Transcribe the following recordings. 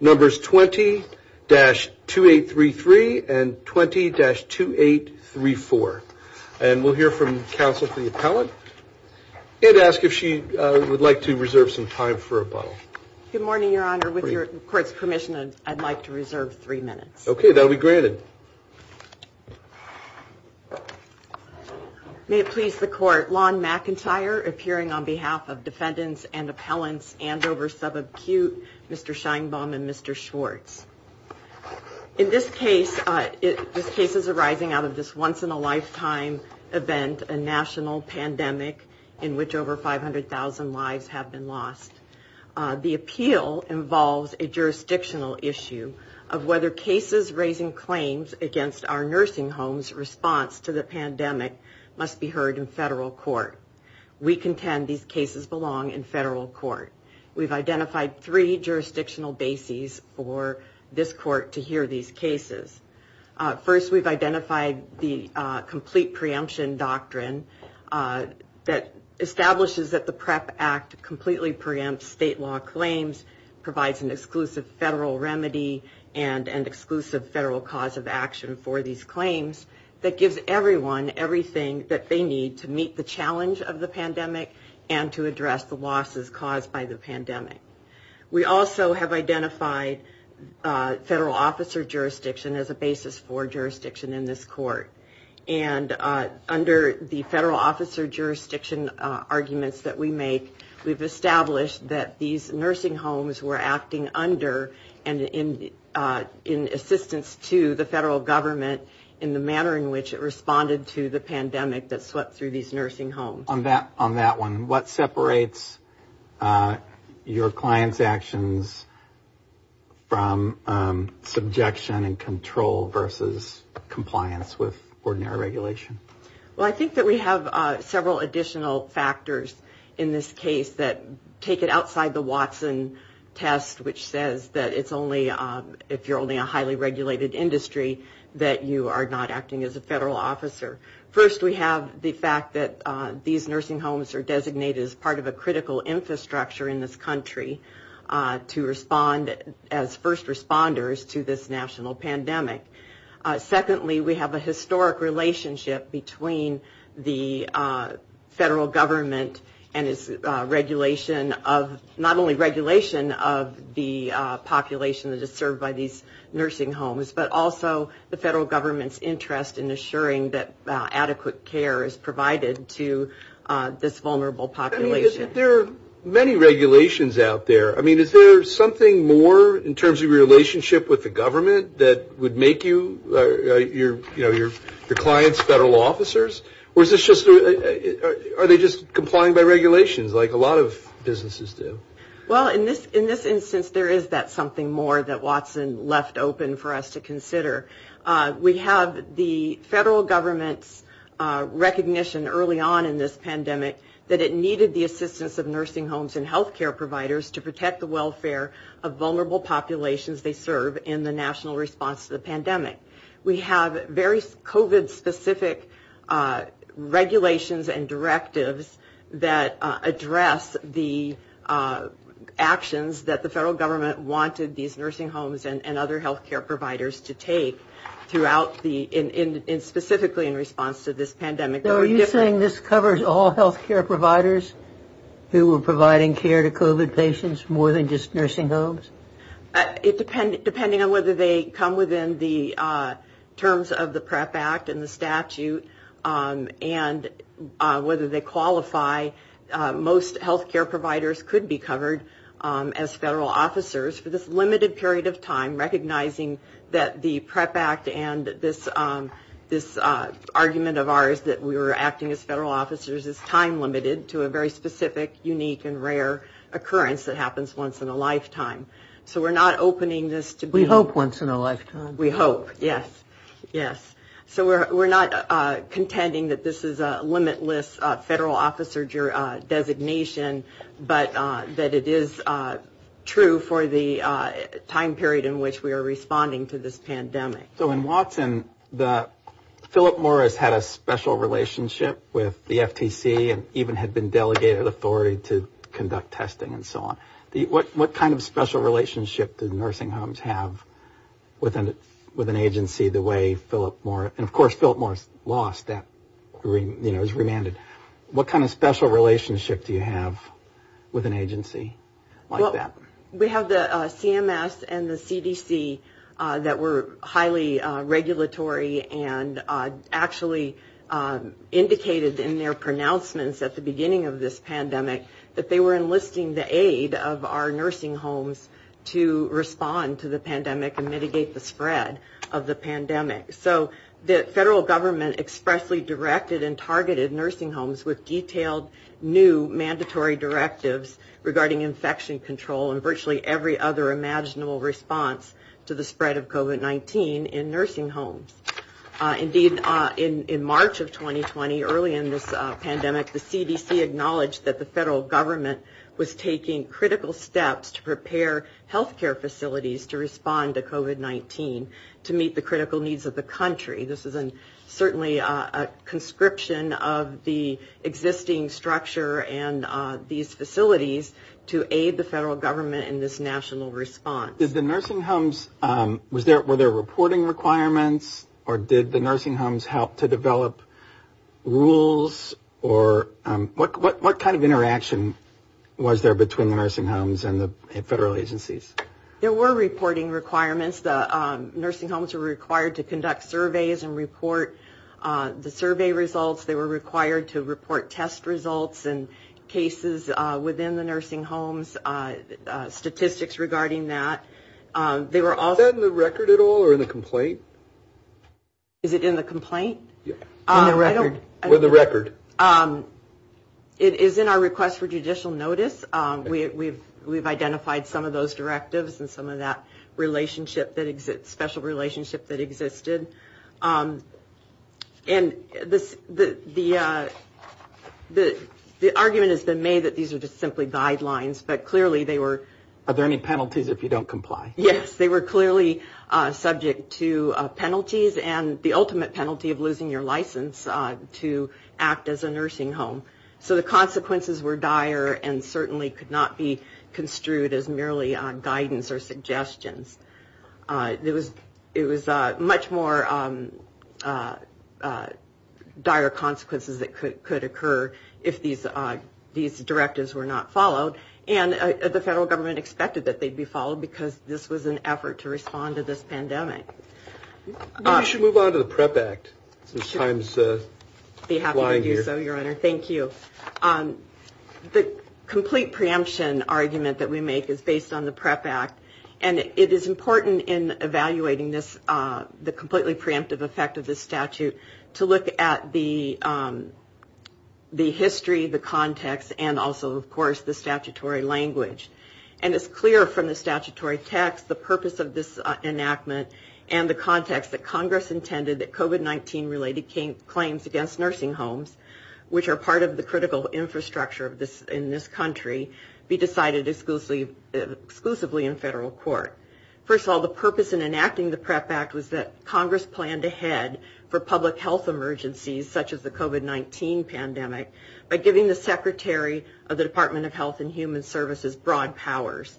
numbers 20-2833 and 20-2834. And we'll hear from counsel for the appellate and ask if she would like to reserve some time for a bottle. Good morning, Your Honor. With your court's permission, I'd like to reserve three minutes. Okay, that'll be granted. May it please the court, Lon McIntyre, appearing on behalf of defendants and appellants Andover Sub-Acute, Mr. Scheinbaum and Mr. Schwartz. In this case, this case is arising out of this once in a lifetime event, a national pandemic in which over 500,000 lives have been lost. The appeal involves a jurisdictional issue of whether cases raising claims against our nursing homes response to the pandemic must be heard in federal court. We contend these cases belong in federal court. We've identified three jurisdictional bases for this court to hear these cases. First, we've identified the complete preemption doctrine that establishes that the PrEP Act completely preempts state law claims, provides an exclusive federal remedy, and an exclusive federal cause of action for these claims that gives everyone everything that they need to meet the challenge of the pandemic and to address the losses caused by the pandemic. We also have identified federal officer jurisdiction as a basis for jurisdiction in this court. And under the federal officer jurisdiction arguments that we make, we've established that these nursing homes were acting under and in assistance to the federal government in the manner in which it responded to the pandemic that swept through these nursing homes. On that one, what separates your client's actions from subjection and control versus compliance with ordinary regulation? Well, I think that we have several additional factors in this case that take it outside the Watson test, which says that it's only if you're only a highly regulated industry that you are not acting as a federal officer. First, we have the fact that these nursing homes are designated as part of a critical infrastructure in this country to respond as first responders to this national pandemic. Secondly, we have a historic relationship between the federal government and its regulation of not only regulation of the population that is served by these nursing homes, but also the federal government's interest in assuring that adequate care is provided to this vulnerable population. There are many regulations out there. I mean, is there something more in terms of your relationship with the government that would make you the client's federal officers? Or are they just complying by regulations like a lot of businesses do? Well, in this instance, there is that something more that Watson left open for us to consider. We have the federal government's recognition early on in this pandemic that it needed the assistance of nursing homes and health care providers to protect the welfare of vulnerable populations they serve in the national response to the pandemic. We have very COVID specific regulations and directives that address the actions that the federal government wanted these nursing homes and other health care providers to take throughout the in specifically in response to this pandemic. Are you saying this covers all health care providers who were providing care to COVID patients more than just nursing homes? It depends depending on whether they come within the terms of the PrEP Act and the statute and whether they qualify. Most health care providers could be covered as federal officers for this limited period of time, recognizing that the PrEP Act and this argument of ours that we were acting as federal officers is time limited to a very specific, unique, and rare occurrence that happens once in a lifetime. So we're not opening this to be... We hope once in a lifetime. We hope, yes. So we're not contending that this is a limitless federal officer designation, but that it is true for the time period in which we are responding to this pandemic. So in Watson, Philip Morris had a special relationship with the FTC and even had been delegated authority to conduct testing and so on. What kind of special relationship did nursing homes have with an agency the way Philip Morris? And, of course, Philip Morris lost. That was remanded. What kind of special relationship do you have with an agency like that? We have the CMS and the CDC that were highly regulatory and actually indicated in their pronouncements at the beginning of this pandemic that they were enlisting the aid of our nursing homes to respond to the pandemic and mitigate the spread of the pandemic. So the federal government expressly directed and targeted nursing homes with detailed new mandatory directives regarding infection control and virtually every other imaginable response to the spread of COVID-19 in nursing homes. Indeed, in March of 2020, early in this pandemic, the CDC acknowledged that the federal government was taking critical steps to prepare health care facilities to respond to COVID-19 to meet the critical needs of the country. This is certainly a conscription of the existing structure and these facilities to aid the federal government in this national response. Were there reporting requirements or did the nursing homes help to develop rules? What kind of interaction was there between the nursing homes and the federal agencies? There were reporting requirements. The nursing homes were required to conduct surveys and report the survey results. They were required to report test results and cases within the nursing homes, statistics regarding that. Is that in the record at all or in the complaint? Is it in the complaint? In the record. With the record. It is in our request for judicial notice. We've identified some of those directives and some of that relationship that exists, special relationship that existed. And the argument has been made that these are just simply guidelines, but clearly they were. Are there any penalties if you don't comply? Yes, they were clearly subject to penalties and the ultimate penalty of losing your license to act as a nursing home. So the consequences were dire and certainly could not be construed as merely guidance or suggestions. It was it was much more dire consequences that could occur if these these directives were not followed. And the federal government expected that they'd be followed because this was an effort to respond to this pandemic. We should move on to the PrEP Act. I'd be happy to do so, Your Honor. Thank you. The complete preemption argument that we make is based on the PrEP Act, and it is important in evaluating this the completely preemptive effect of the statute to look at the the history, the context and also, of course, the statutory language. And it's clear from the statutory text, the purpose of this enactment and the context that Congress intended, that COVID-19 related claims against nursing homes, which are part of the critical infrastructure of this in this country, be decided exclusively exclusively in federal court. First of all, the purpose in enacting the PrEP Act was that Congress planned ahead for public health emergencies such as the COVID-19 pandemic by giving the secretary of the Department of Health and Human Services broad powers,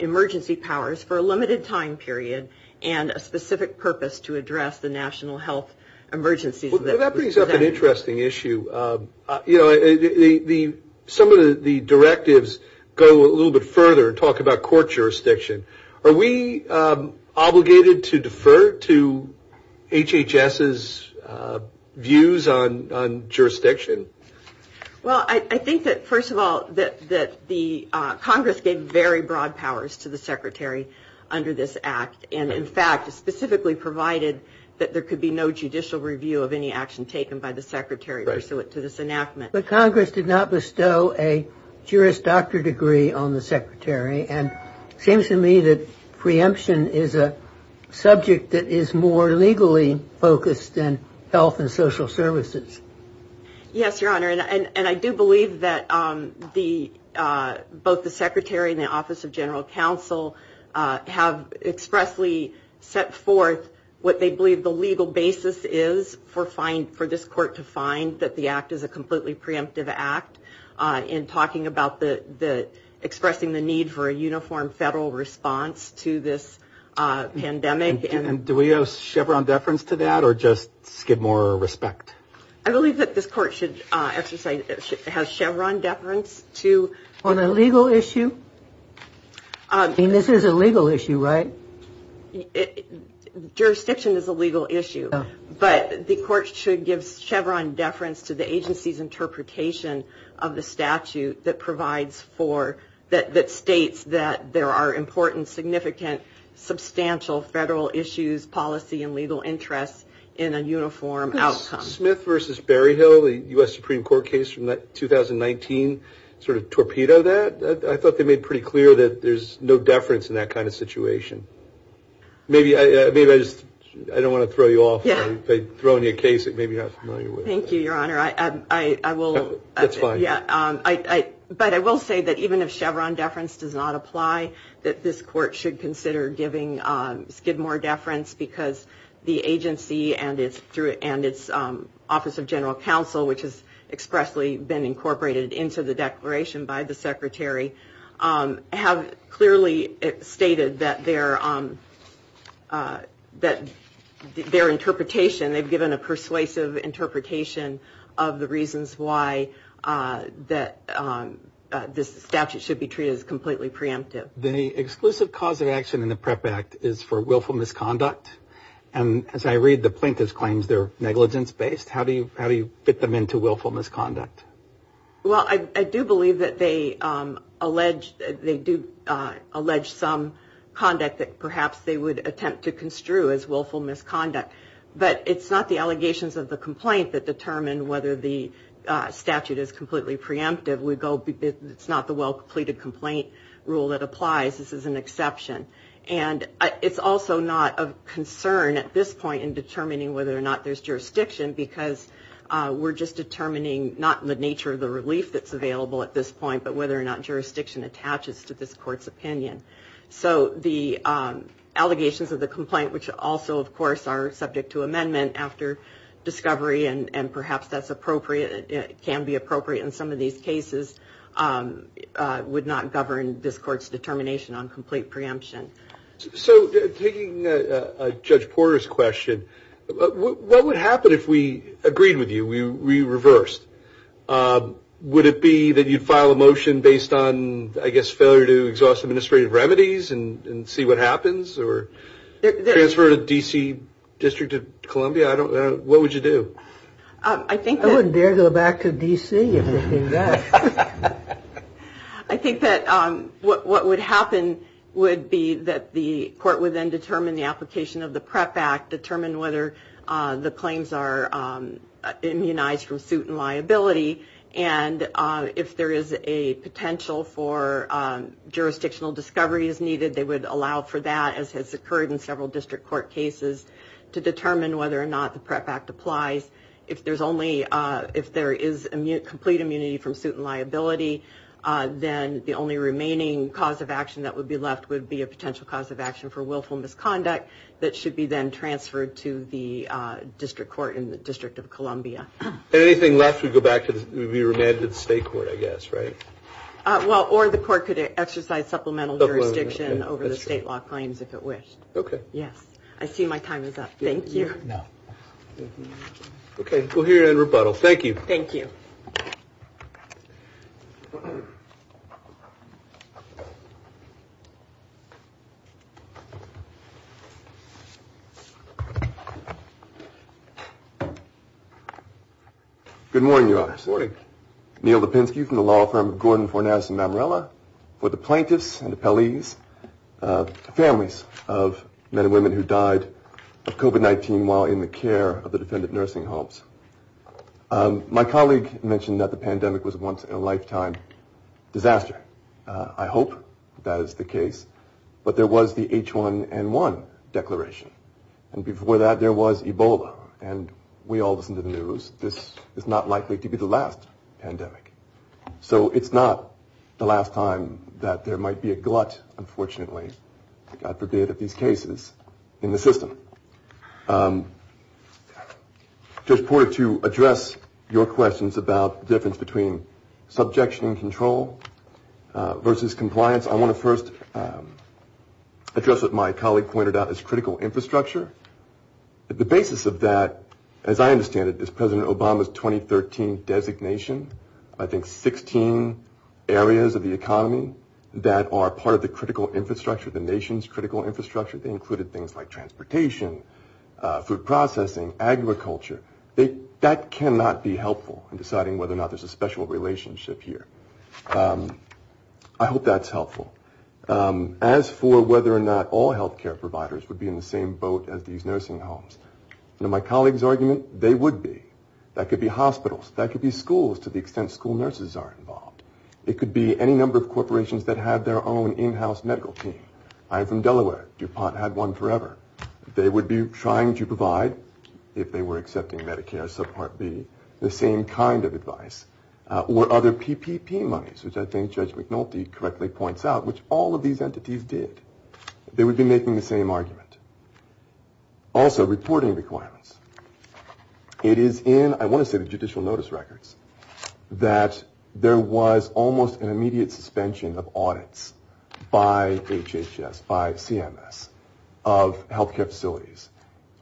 emergency powers for a limited time period and a specific purpose to address the national health emergencies. That brings up an interesting issue. You know, some of the directives go a little bit further and talk about court jurisdiction. Are we obligated to defer to HHS's views on jurisdiction? Well, I think that, first of all, that the Congress gave very broad powers to the secretary under this act. And in fact, specifically provided that there could be no judicial review of any action taken by the secretary to this enactment. But Congress did not bestow a Juris Doctor degree on the secretary. And it seems to me that preemption is a subject that is more legally focused than health and social services. Yes, Your Honor. And I do believe that the both the secretary and the Office of General Counsel have expressly set forth what they believe the legal basis is for fine for this court to find that the act is a completely preemptive act in talking about the expressing the need for a uniform federal response to this pandemic. And do we have Chevron deference to that or just give more respect? I believe that this court should exercise Chevron deference to the legal issue. This is a legal issue, right? Jurisdiction is a legal issue, but the court should give Chevron deference to the agency's interpretation of the statute that provides that states that there are important, significant, substantial federal issues, policy and legal interests in a uniform outcome. Smith versus Berryhill, the U.S. Supreme Court case from 2019, sort of torpedo that. I thought they made pretty clear that there's no deference in that kind of situation. Maybe I just I don't want to throw you off by throwing you a case that maybe you're not familiar with. Thank you, Your Honor. I will. That's fine. But I will say that even if Chevron deference does not apply, that this court should consider giving Skidmore deference because the agency and it's through and its Office of General Counsel, which has expressly been incorporated into the declaration by the secretary, have clearly stated that they're that their interpretation, they've given a persuasive interpretation of the reasons why that this statute should be treated as completely preemptive. The exclusive cause of action in the PrEP Act is for willful misconduct. And as I read the plaintiff's claims, they're negligence based. How do you how do you fit them into willful misconduct? Well, I do believe that they allege they do allege some conduct that perhaps they would attempt to construe as willful misconduct. But it's not the allegations of the complaint that determine whether the statute is completely preemptive. We go. It's not the well-completed complaint rule that applies. This is an exception. And it's also not of concern at this point in determining whether or not there's jurisdiction, because we're just determining not the nature of the relief that's available at this point, but whether or not jurisdiction attaches to this court's opinion. So the allegations of the complaint, which also, of course, are subject to amendment after discovery. And perhaps that's appropriate. It can be appropriate. And some of these cases would not govern this court's determination on complete preemption. So taking Judge Porter's question, what would happen if we agreed with you? We reversed. Would it be that you'd file a motion based on, I guess, failure to exhaust administrative remedies and see what happens or transfer to D.C. District of Columbia? I don't know. What would you do? I think I wouldn't dare go back to D.C. I think that what would happen would be that the court would then determine the application of the PREP Act, determine whether the claims are immunized from suit and liability. And if there is a potential for jurisdictional discovery as needed, they would allow for that, as has occurred in several district court cases, to determine whether or not the PREP Act applies. If there is complete immunity from suit and liability, then the only remaining cause of action that would be left would be a potential cause of action for willful misconduct that should be then transferred to the district court in the District of Columbia. Anything left would be remanded to the state court, I guess, right? Well, or the court could exercise supplemental jurisdiction over the state law claims if it wished. OK. Yes. I see my time is up. Thank you. OK. We'll hear your rebuttal. Thank you. Thank you. Good morning, Your Honor. Good morning. Neil Lipinski from the law firm of Gordon Forness and Mamarella. For the plaintiffs and appellees, families of men and women who died of COVID-19 while in the care of the defendant nursing homes. My colleague mentioned that the pandemic was once in a lifetime disaster. I hope that is the case. But there was the H1N1 declaration. And before that, there was Ebola. And we all listen to the news. This is not likely to be the last pandemic. So it's not the last time that there might be a glut, unfortunately, God forbid, of these cases in the system. Just wanted to address your questions about the difference between subjection and control versus compliance. I want to first address what my colleague pointed out as critical infrastructure. The basis of that, as I understand it, is President Obama's 2013 designation. I think 16 areas of the economy that are part of the critical infrastructure, the nation's critical infrastructure. They included things like transportation, food processing, agriculture. That cannot be helpful in deciding whether or not there's a special relationship here. I hope that's helpful. As for whether or not all health care providers would be in the same boat as these nursing homes. Now, my colleague's argument, they would be. That could be hospitals. That could be schools to the extent school nurses are involved. It could be any number of corporations that have their own in-house medical team. I'm from Delaware. DuPont had one forever. They would be trying to provide, if they were accepting Medicare, subpart B, the same kind of advice. Or other PPP monies, which I think Judge McNulty correctly points out, which all of these entities did. They would be making the same argument. Also, reporting requirements. It is in, I want to say, the judicial notice records that there was almost an immediate suspension of audits by HHS, by CMS, of health care facilities.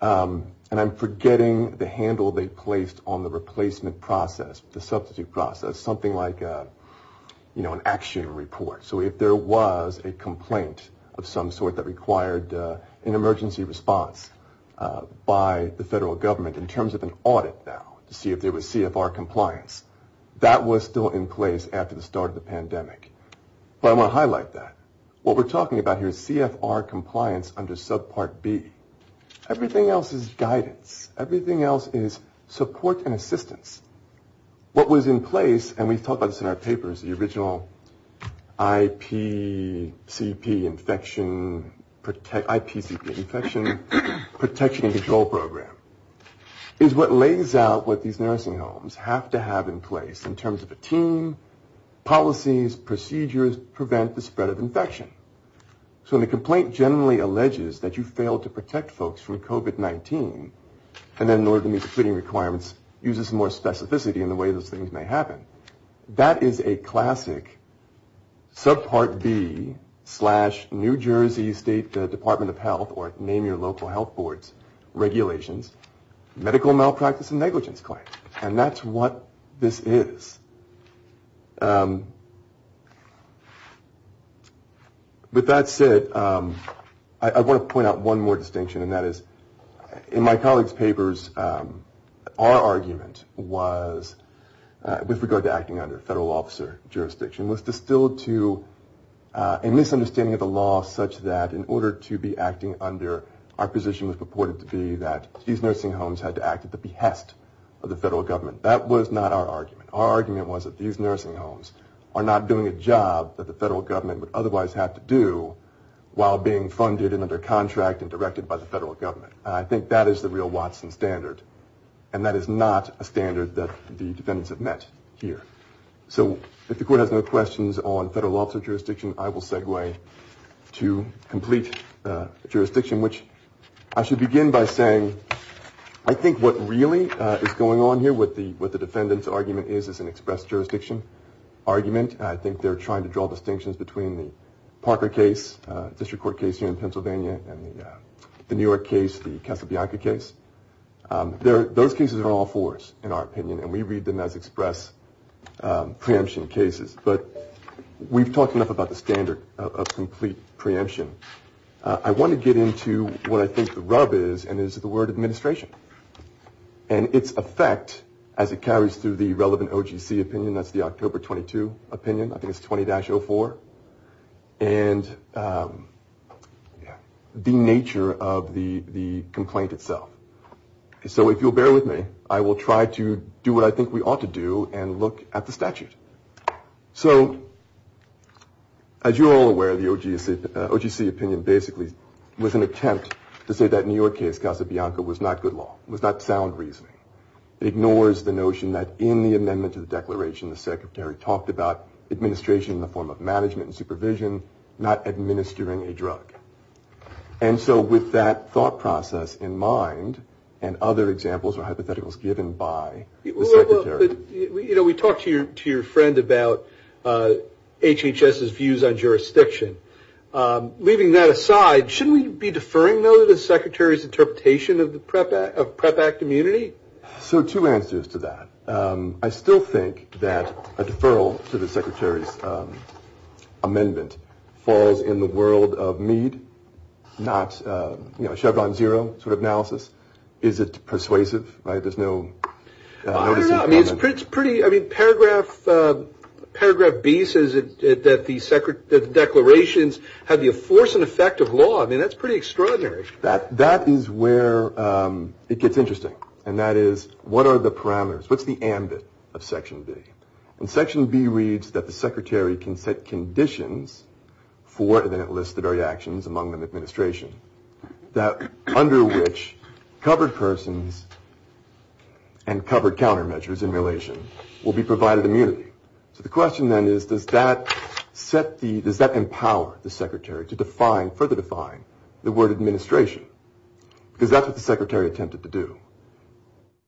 And I'm forgetting the handle they placed on the replacement process, the substitute process. Something like, you know, an action report. So if there was a complaint of some sort that required an emergency response by the federal government in terms of an audit now to see if there was CFR compliance. That was still in place after the start of the pandemic. But I want to highlight that. What we're talking about here is CFR compliance under subpart B. Everything else is guidance. Everything else is support and assistance. What was in place, and we've talked about this in our papers, the original IPCP infection protection and control program, is what lays out what these nursing homes have to have in place in terms of a team, policies, procedures, prevent the spread of infection. So when a complaint generally alleges that you failed to protect folks from COVID-19, and then in order to meet the cleaning requirements uses more specificity in the way those things may happen, that is a classic subpart B slash New Jersey State Department of Health, or name your local health boards, regulations, medical malpractice and negligence claim. And that's what this is. With that said, I want to point out one more distinction, and that is in my colleagues' papers, our argument was, with regard to acting under federal officer jurisdiction, was distilled to a misunderstanding of the law such that in order to be acting under, our position was purported to be that these nursing homes had to act at the behest of the federal government. That was not our argument. Our argument was that these nursing homes are not doing a job that the federal government would otherwise have to do while being funded and under contract and directed by the federal government. I think that is the real Watson standard. And that is not a standard that the defendants have met here. So if the court has no questions on federal officer jurisdiction, I will segue to complete jurisdiction, which I should begin by saying I think what really is going on here, what the defendant's argument is, is an expressed jurisdiction argument. I think they're trying to draw distinctions between the Parker case, district court case here in Pennsylvania, and the New York case, the Casablanca case. Those cases are all fours in our opinion, and we read them as express preemption cases. But we've talked enough about the standard of complete preemption. I want to get into what I think the rub is, and it is the word administration and its effect as it carries through the relevant OGC opinion, that's the October 22 opinion, I think it's 20-04. And the nature of the complaint itself. So if you'll bear with me, I will try to do what I think we ought to do and look at the statute. So as you're all aware, the OGC opinion basically was an attempt to say that New York case, Casablanca, was not good law, was not sound reasoning. It ignores the notion that in the amendment to the declaration, the secretary talked about administration in the form of management and supervision, not administering a drug. And so with that thought process in mind, and other examples or hypotheticals given by the secretary. You know, we talked to your friend about HHS's views on jurisdiction. Leaving that aside, shouldn't we be deferring, though, to the secretary's interpretation of PrEP Act immunity? So two answers to that. I still think that a deferral to the secretary's amendment falls in the world of Meade, not Chevron Zero sort of analysis. Is it persuasive? There's no... I don't know. I mean, it's pretty, I mean, paragraph B says that the declarations have the force and effect of law. I mean, that's pretty extraordinary. That is where it gets interesting. And that is, what are the parameters? What's the ambit of section B? And section B reads that the secretary can set conditions for, and then it lists the very actions, among them administration, that under which covered persons and covered countermeasures in relation will be provided immunity. So the question then is, does that set the... does that empower the secretary to define, further define the word administration? Because that's what the secretary attempted to do.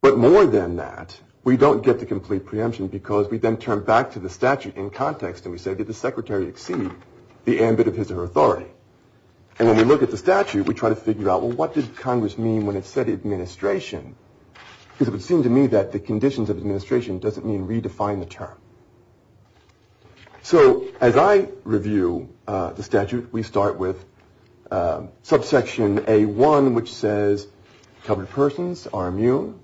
But more than that, we don't get the complete preemption because we then turn back to the statute in context. And we say, did the secretary exceed the ambit of his or her authority? And when we look at the statute, we try to figure out, well, what did Congress mean when it said administration? Because it would seem to me that the conditions of administration doesn't mean redefine the term. So as I review the statute, we start with subsection A1, which says covered persons are immune,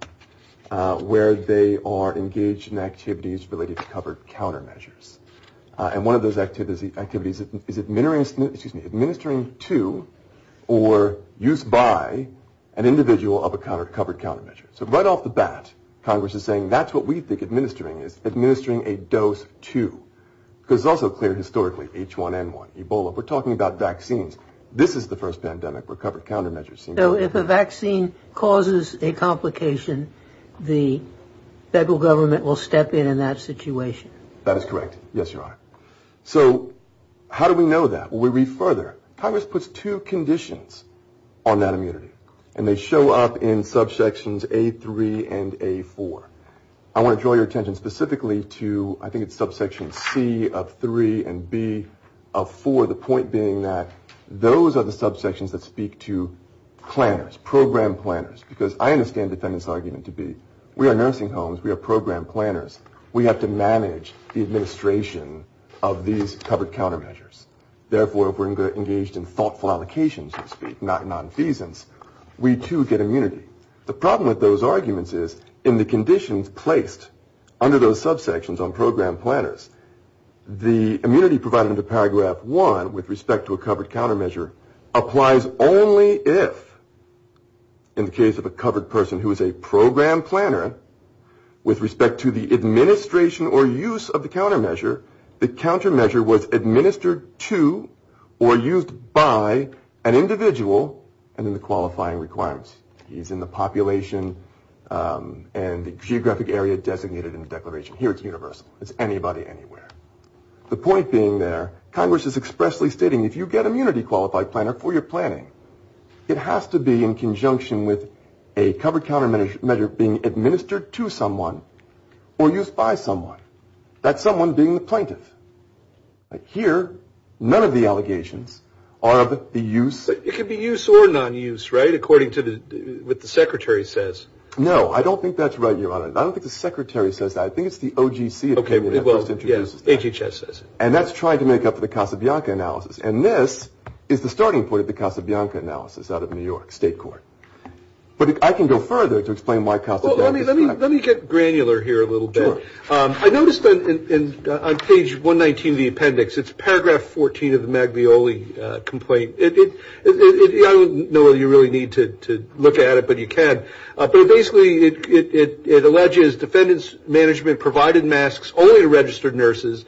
where they are engaged in activities related to covered countermeasures. And one of those activities is administering to or used by an individual of a covered countermeasure. So right off the bat, Congress is saying that's what we think administering is, administering a dose to. Because it's also clear historically, H1N1, Ebola, we're talking about vaccines. This is the first pandemic where covered countermeasures seem to... So if a vaccine causes a complication, the federal government will step in in that situation. That is correct. Yes, Your Honor. So how do we know that? Well, we read further. Congress puts two conditions on that immunity, and they show up in subsections A3 and A4. I want to draw your attention specifically to, I think it's subsection C of 3 and B of 4, the point being that those are the subsections that speak to planners, program planners. Because I understand the defendant's argument to be, we are nursing homes, we are program planners. We have to manage the administration of these covered countermeasures. Therefore, if we're engaged in thoughtful allocations, so to speak, not nonfeasance, we too get immunity. The problem with those arguments is in the conditions placed under those subsections on program planners, the immunity provided under paragraph 1 with respect to a covered countermeasure applies only if, in the case of a covered person who is a program planner, with respect to the administration or use of the countermeasure, the countermeasure was administered to or used by an individual and in the qualifying requirements. He's in the population and the geographic area designated in the declaration. Here it's universal. It's anybody, anywhere. The point being there, Congress is expressly stating if you get immunity qualified planner for your planning, it has to be in conjunction with a covered countermeasure being administered to someone or used by someone. That's someone being the plaintiff. Here, none of the allegations are of the use. It could be use or nonuse, right, according to what the secretary says. No, I don't think that's right, Your Honor. I don't think the secretary says that. I think it's the OGC opinion that first introduces that. Well, yes, HHS says it. And that's trying to make up for the Casablanca analysis. And this is the starting point of the Casablanca analysis out of New York State Court. But I can go further to explain why Casablanca is not. Let me get granular here a little bit. Sure. I noticed on page 119 of the appendix, it's paragraph 14 of the Maglioli complaint. I don't know whether you really need to look at it, but you can. But basically it alleges defendants' management provided masks only to registered nurses,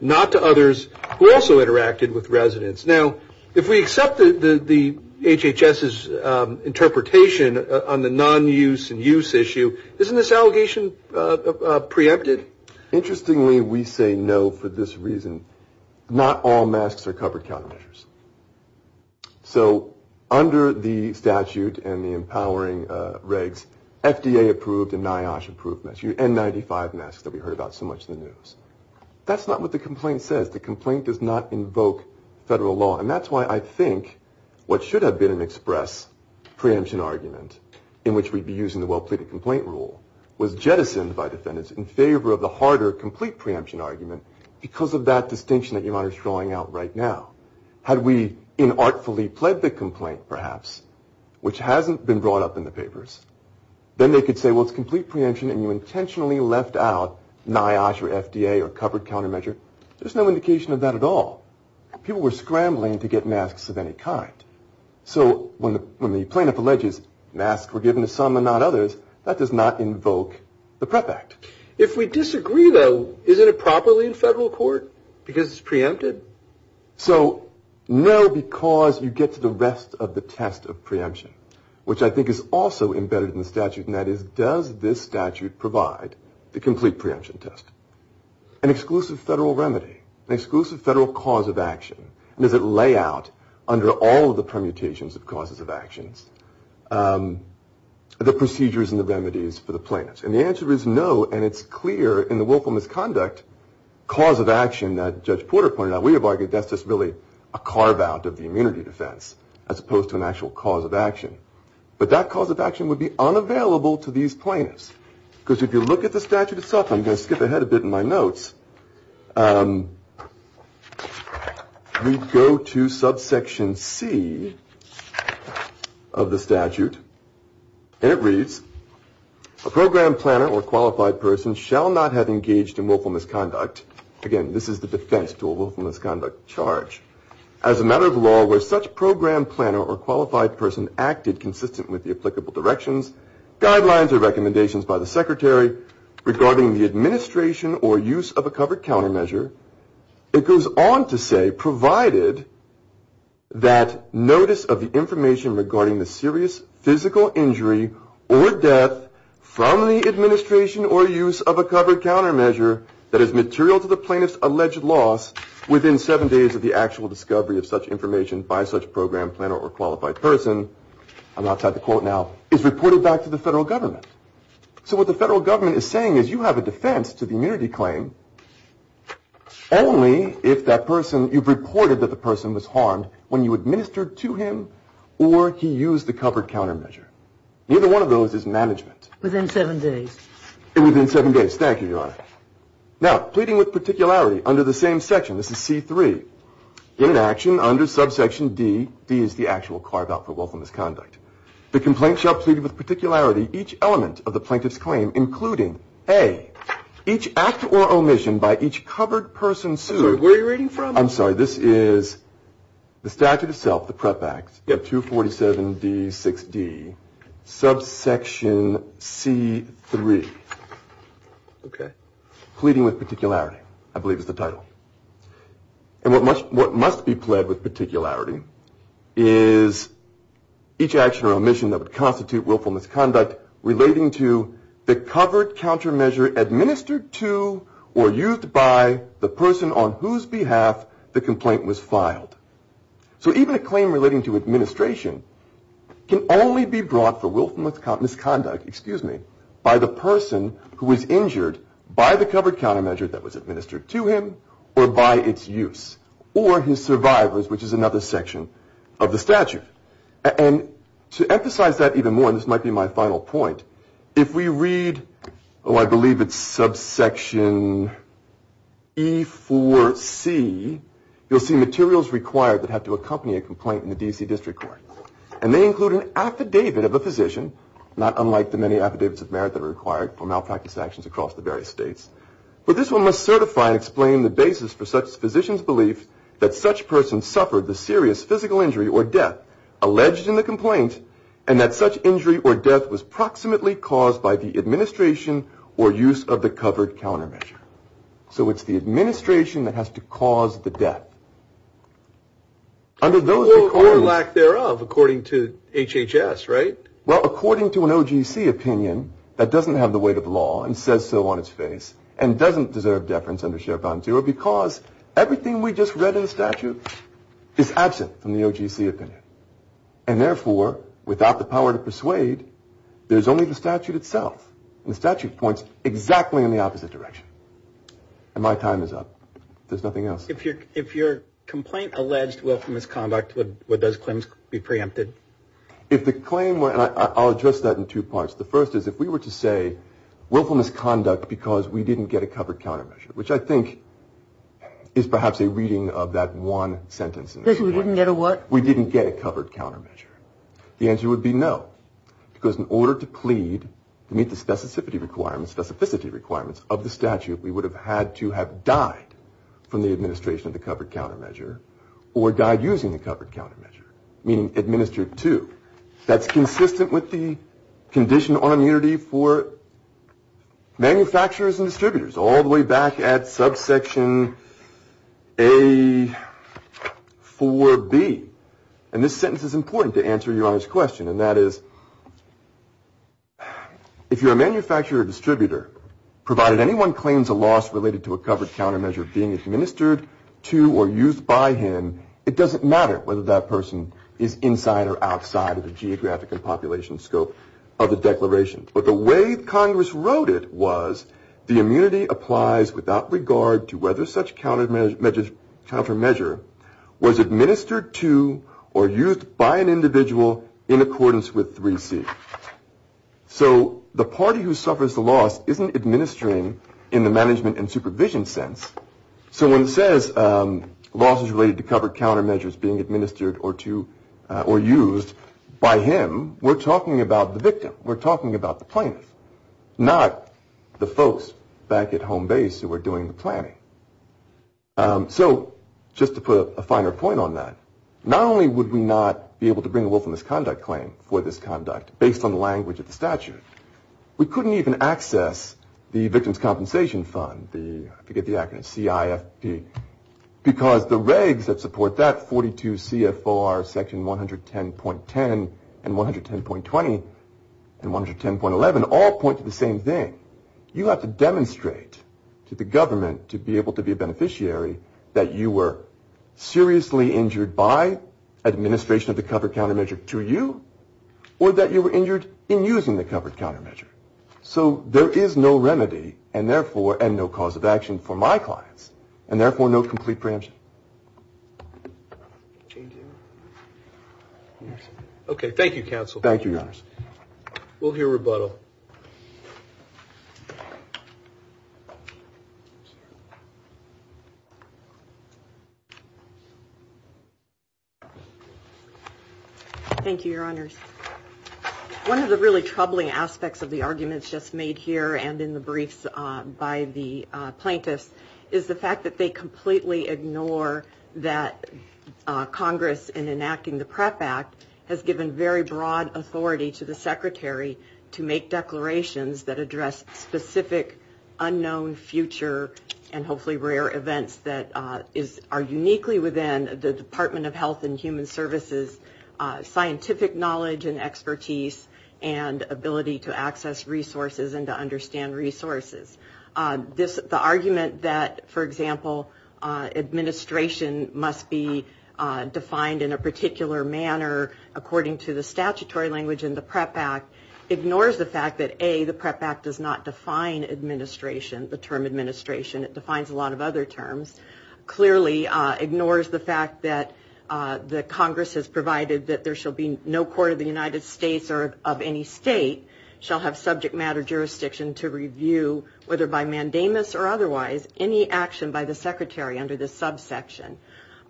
not to others who also interacted with residents. Now, if we accept the HHS's interpretation on the nonuse and use issue, isn't this allegation preempted? Interestingly, we say no for this reason. Not all masks are covered countermeasures. So under the statute and the empowering regs, FDA approved and NIOSH approved masks, N95 masks that we heard about so much in the news. That's not what the complaint says. The complaint does not invoke federal law. And that's why I think what should have been an express preemption argument in which we'd be using the well-pleaded complaint rule, was jettisoned by defendants in favor of the harder complete preemption argument because of that distinction that your Honor is drawing out right now. Had we inartfully pled the complaint, perhaps, which hasn't been brought up in the papers, then they could say, well, it's complete preemption and you intentionally left out NIOSH or FDA or covered countermeasure. There's no indication of that at all. People were scrambling to get masks of any kind. So when the plaintiff alleges masks were given to some and not others, that does not invoke the PREP Act. If we disagree, though, isn't it properly in federal court because it's preempted? So no, because you get to the rest of the test of preemption, which I think is also embedded in the statute, and that is does this statute provide the complete preemption test? An exclusive federal remedy, an exclusive federal cause of action, and does it lay out under all of the permutations of causes of actions the procedures and the remedies for the plaintiffs? And the answer is no, and it's clear in the willful misconduct cause of action that Judge Porter pointed out. We have argued that's just really a carve-out of the immunity defense as opposed to an actual cause of action. But that cause of action would be unavailable to these plaintiffs because if you look at the statute itself, I'm going to skip ahead a bit in my notes. We go to subsection C of the statute, and it reads, a program planner or qualified person shall not have engaged in willful misconduct. Again, this is the defense to a willful misconduct charge. As a matter of law, where such program planner or qualified person acted consistent with the applicable directions, guidelines, or recommendations by the secretary regarding the administration or use of a covered countermeasure, it goes on to say provided that notice of the information regarding the serious physical injury or death from the administration or use of a covered countermeasure that is material to the plaintiff's alleged loss within seven days of the actual discovery of such information by such program planner or qualified person. I'm outside the quote now. It's reported back to the federal government. So what the federal government is saying is you have a defense to the immunity claim only if that person, you've reported that the person was harmed when you administered to him or he used the covered countermeasure. Neither one of those is management. Within seven days. Within seven days. Thank you, Your Honor. Now, pleading with particularity under the same section, this is C3. In action under subsection D, D is the actual carve-out for wealth and misconduct. The complaint shall plead with particularity each element of the plaintiff's claim, including A, each act or omission by each covered person sued. I'm sorry, where are you reading from? I'm sorry, this is the statute itself, the PREP Act, 247D6D, subsection C3. Okay. Pleading with particularity, I believe is the title. And what must be pled with particularity is each action or omission that would constitute willful misconduct relating to the covered countermeasure administered to or used by the person on whose behalf the complaint was filed. So even a claim relating to administration can only be brought for willful misconduct, excuse me, by the person who was injured by the covered countermeasure that was administered to him or by its use, or his survivors, which is another section of the statute. And to emphasize that even more, and this might be my final point, if we read, oh, I believe it's subsection E4C, you'll see materials required that have to accompany a complaint in the D.C. District Court. And they include an affidavit of a physician, not unlike the many affidavits of merit that are required for malpractice actions across the various states. But this one must certify and explain the basis for such a physician's belief that such person suffered the serious physical injury or death alleged in the complaint and that such injury or death was proximately caused by the administration or use of the covered countermeasure. So it's the administration that has to cause the death. Or lack thereof, according to HHS, right? Well, according to an OGC opinion, that doesn't have the weight of law and says so on its face and doesn't deserve deference under share bond zero because everything we just read in the statute is absent from the OGC opinion. And therefore, without the power to persuade, there's only the statute itself. And the statute points exactly in the opposite direction. And my time is up. There's nothing else. If your complaint alleged willful misconduct, would those claims be preempted? If the claim were, and I'll address that in two parts. The first is if we were to say willful misconduct because we didn't get a covered countermeasure, which I think is perhaps a reading of that one sentence. Because we didn't get a what? We didn't get a covered countermeasure. The answer would be no. Because in order to plead to meet the specificity requirements of the statute, we would have had to have died from the administration of the covered countermeasure or died using the covered countermeasure, meaning administered to. That's consistent with the condition on immunity for manufacturers and distributors all the way back at subsection A4B. And this sentence is important to answer your Honor's question. And that is if you're a manufacturer distributor, provided anyone claims a loss related to a covered countermeasure being administered to or used by him, it doesn't matter whether that person is inside or outside of the geographic and population scope of the declaration. But the way Congress wrote it was the immunity applies without regard to whether such countermeasure was administered to or used by an individual in accordance with 3C. So the party who suffers the loss isn't administering in the management and supervision sense. So when it says loss is related to covered countermeasures being administered or used by him, we're talking about the victim. We're talking about the plaintiff, not the folks back at home base who are doing the planning. So just to put a finer point on that, not only would we not be able to bring a willfulness conduct claim for this conduct based on the language of the statute, we couldn't even access the Victim's Compensation Fund, I forget the acronym, CIFP, because the regs that support that, 42 CFR section 110.10 and 110.20 and 110.11, all point to the same thing. You have to demonstrate to the government to be able to be a beneficiary that you were seriously injured by administration of the covered countermeasure to you or that you were injured in using the covered countermeasure. So there is no remedy and therefore no cause of action for my clients and therefore no complete preemption. Okay. Thank you, Counsel. Thank you, Your Honor. We'll hear rebuttal. Thank you, Your Honors. One of the really troubling aspects of the arguments just made here and in the briefs by the plaintiffs is the fact that they completely ignore that Congress, in enacting the PREP Act, has given very broad authority to the Secretary to make declarations that address specific unknown future and hopefully rare events that are uniquely within the Department of Health and Human Services scientific knowledge and expertise and ability to access resources and to understand resources. The argument that, for example, administration must be defined in a particular manner, according to the statutory language in the PREP Act, ignores the fact that, A, the PREP Act does not define administration, the term administration. It defines a lot of other terms. Clearly ignores the fact that the Congress has provided that there shall be no court of the United States or of any state shall have subject matter jurisdiction to review, whether by mandamus or otherwise, any action by the Secretary under this subsection.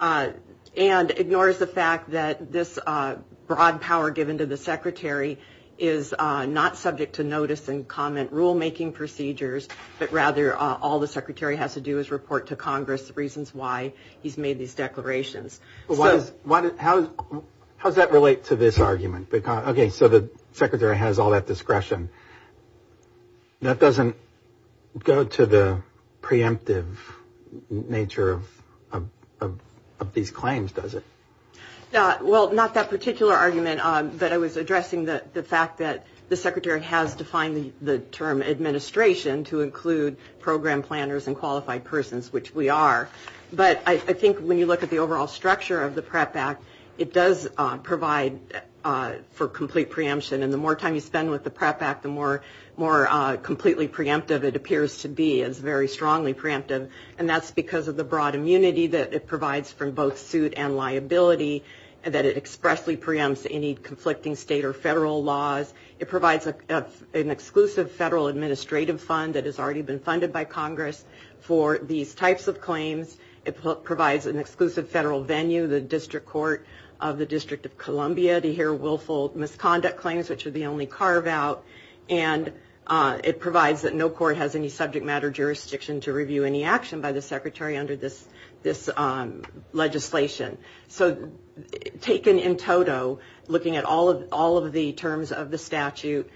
And ignores the fact that this broad power given to the Secretary is not subject to notice and comment rulemaking procedures, but rather all the Secretary has to do is report to Congress the reasons why he's made these declarations. How does that relate to this argument? Okay, so the Secretary has all that discretion. That doesn't go to the preemptive nature of these claims, does it? Well, not that particular argument, but I was addressing the fact that the Secretary has defined the term administration to include program planners and qualified persons, which we are. But I think when you look at the overall structure of the PREP Act, it does provide for complete preemption. And the more time you spend with the PREP Act, the more completely preemptive it appears to be. It's very strongly preemptive. And that's because of the broad immunity that it provides for both suit and liability, that it expressly preempts any conflicting state or federal laws. It provides an exclusive federal administrative fund that has already been funded by Congress for these types of claims. It provides an exclusive federal venue, the District Court of the District of Columbia, to hear willful misconduct claims, which are the only carve-out. And it provides that no court has any subject matter jurisdiction to review any action by the Secretary under this legislation. So taken in toto, looking at all of the terms of the statute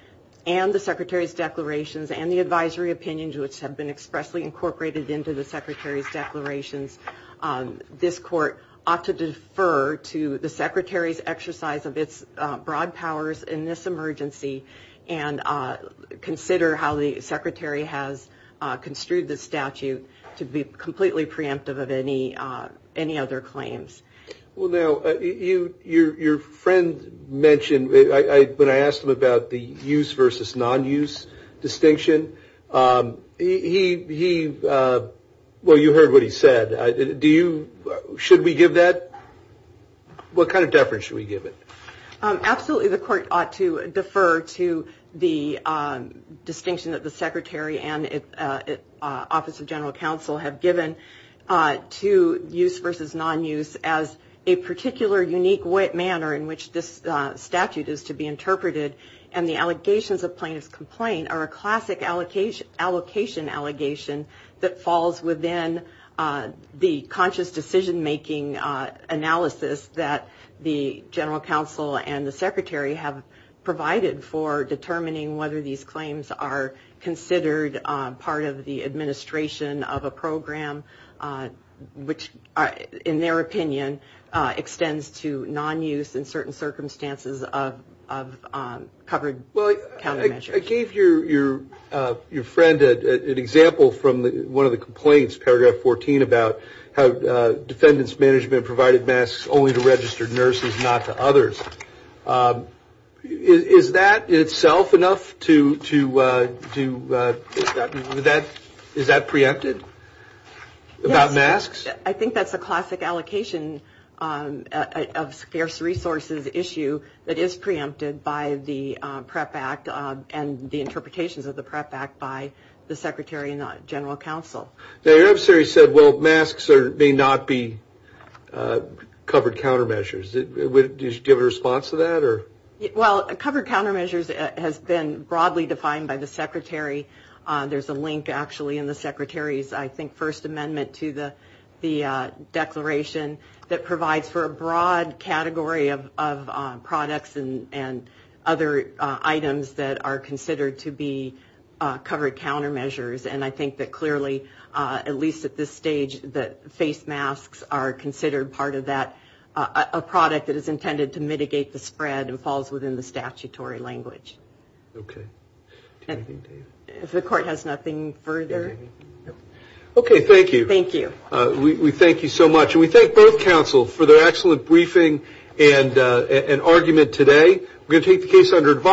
and the Secretary's declarations and the advisory opinions which have been expressly incorporated into the Secretary's declarations, this court ought to defer to the Secretary's exercise of its broad powers in this emergency and consider how the Secretary has construed the statute to be completely preemptive of any other claims. Well, now, your friend mentioned, when I asked him about the use versus non-use distinction, he, well, you heard what he said. Do you, should we give that? What kind of deference should we give it? Absolutely, the court ought to defer to the distinction that the Secretary and Office of General Counsel have given to use versus non-use as a particular unique manner in which this statute is to be interpreted. And the allegations of plaintiff's complaint are a classic allocation allegation that falls within the conscious decision-making analysis that the General Counsel and the Secretary have provided for determining whether these claims are considered part of the administration of a program, which, in their opinion, extends to non-use in certain circumstances of covered countermeasures. Well, I gave your friend an example from one of the complaints, paragraph 14, about how defendants' management provided masks only to registered nurses, not to others. Is that in itself enough to, is that preempted about masks? I think that's a classic allocation of scarce resources issue that is preempted by the PREP Act and the interpretations of the PREP Act by the Secretary and the General Counsel. Now, your adversary said, well, masks may not be covered countermeasures. Do you have a response to that? Well, covered countermeasures has been broadly defined by the Secretary. There's a link, actually, in the Secretary's, I think, First Amendment to the declaration that provides for a broad category of products and other items that are considered to be covered countermeasures. And I think that clearly, at least at this stage, that face masks are considered part of that, a product that is intended to mitigate the spread and falls within the statutory language. Okay. Do you have anything, Dave? If the Court has nothing further. Okay, thank you. Thank you. We thank you so much. And we thank both counsels for their excellent briefing and argument today. We're going to take the case under advisory.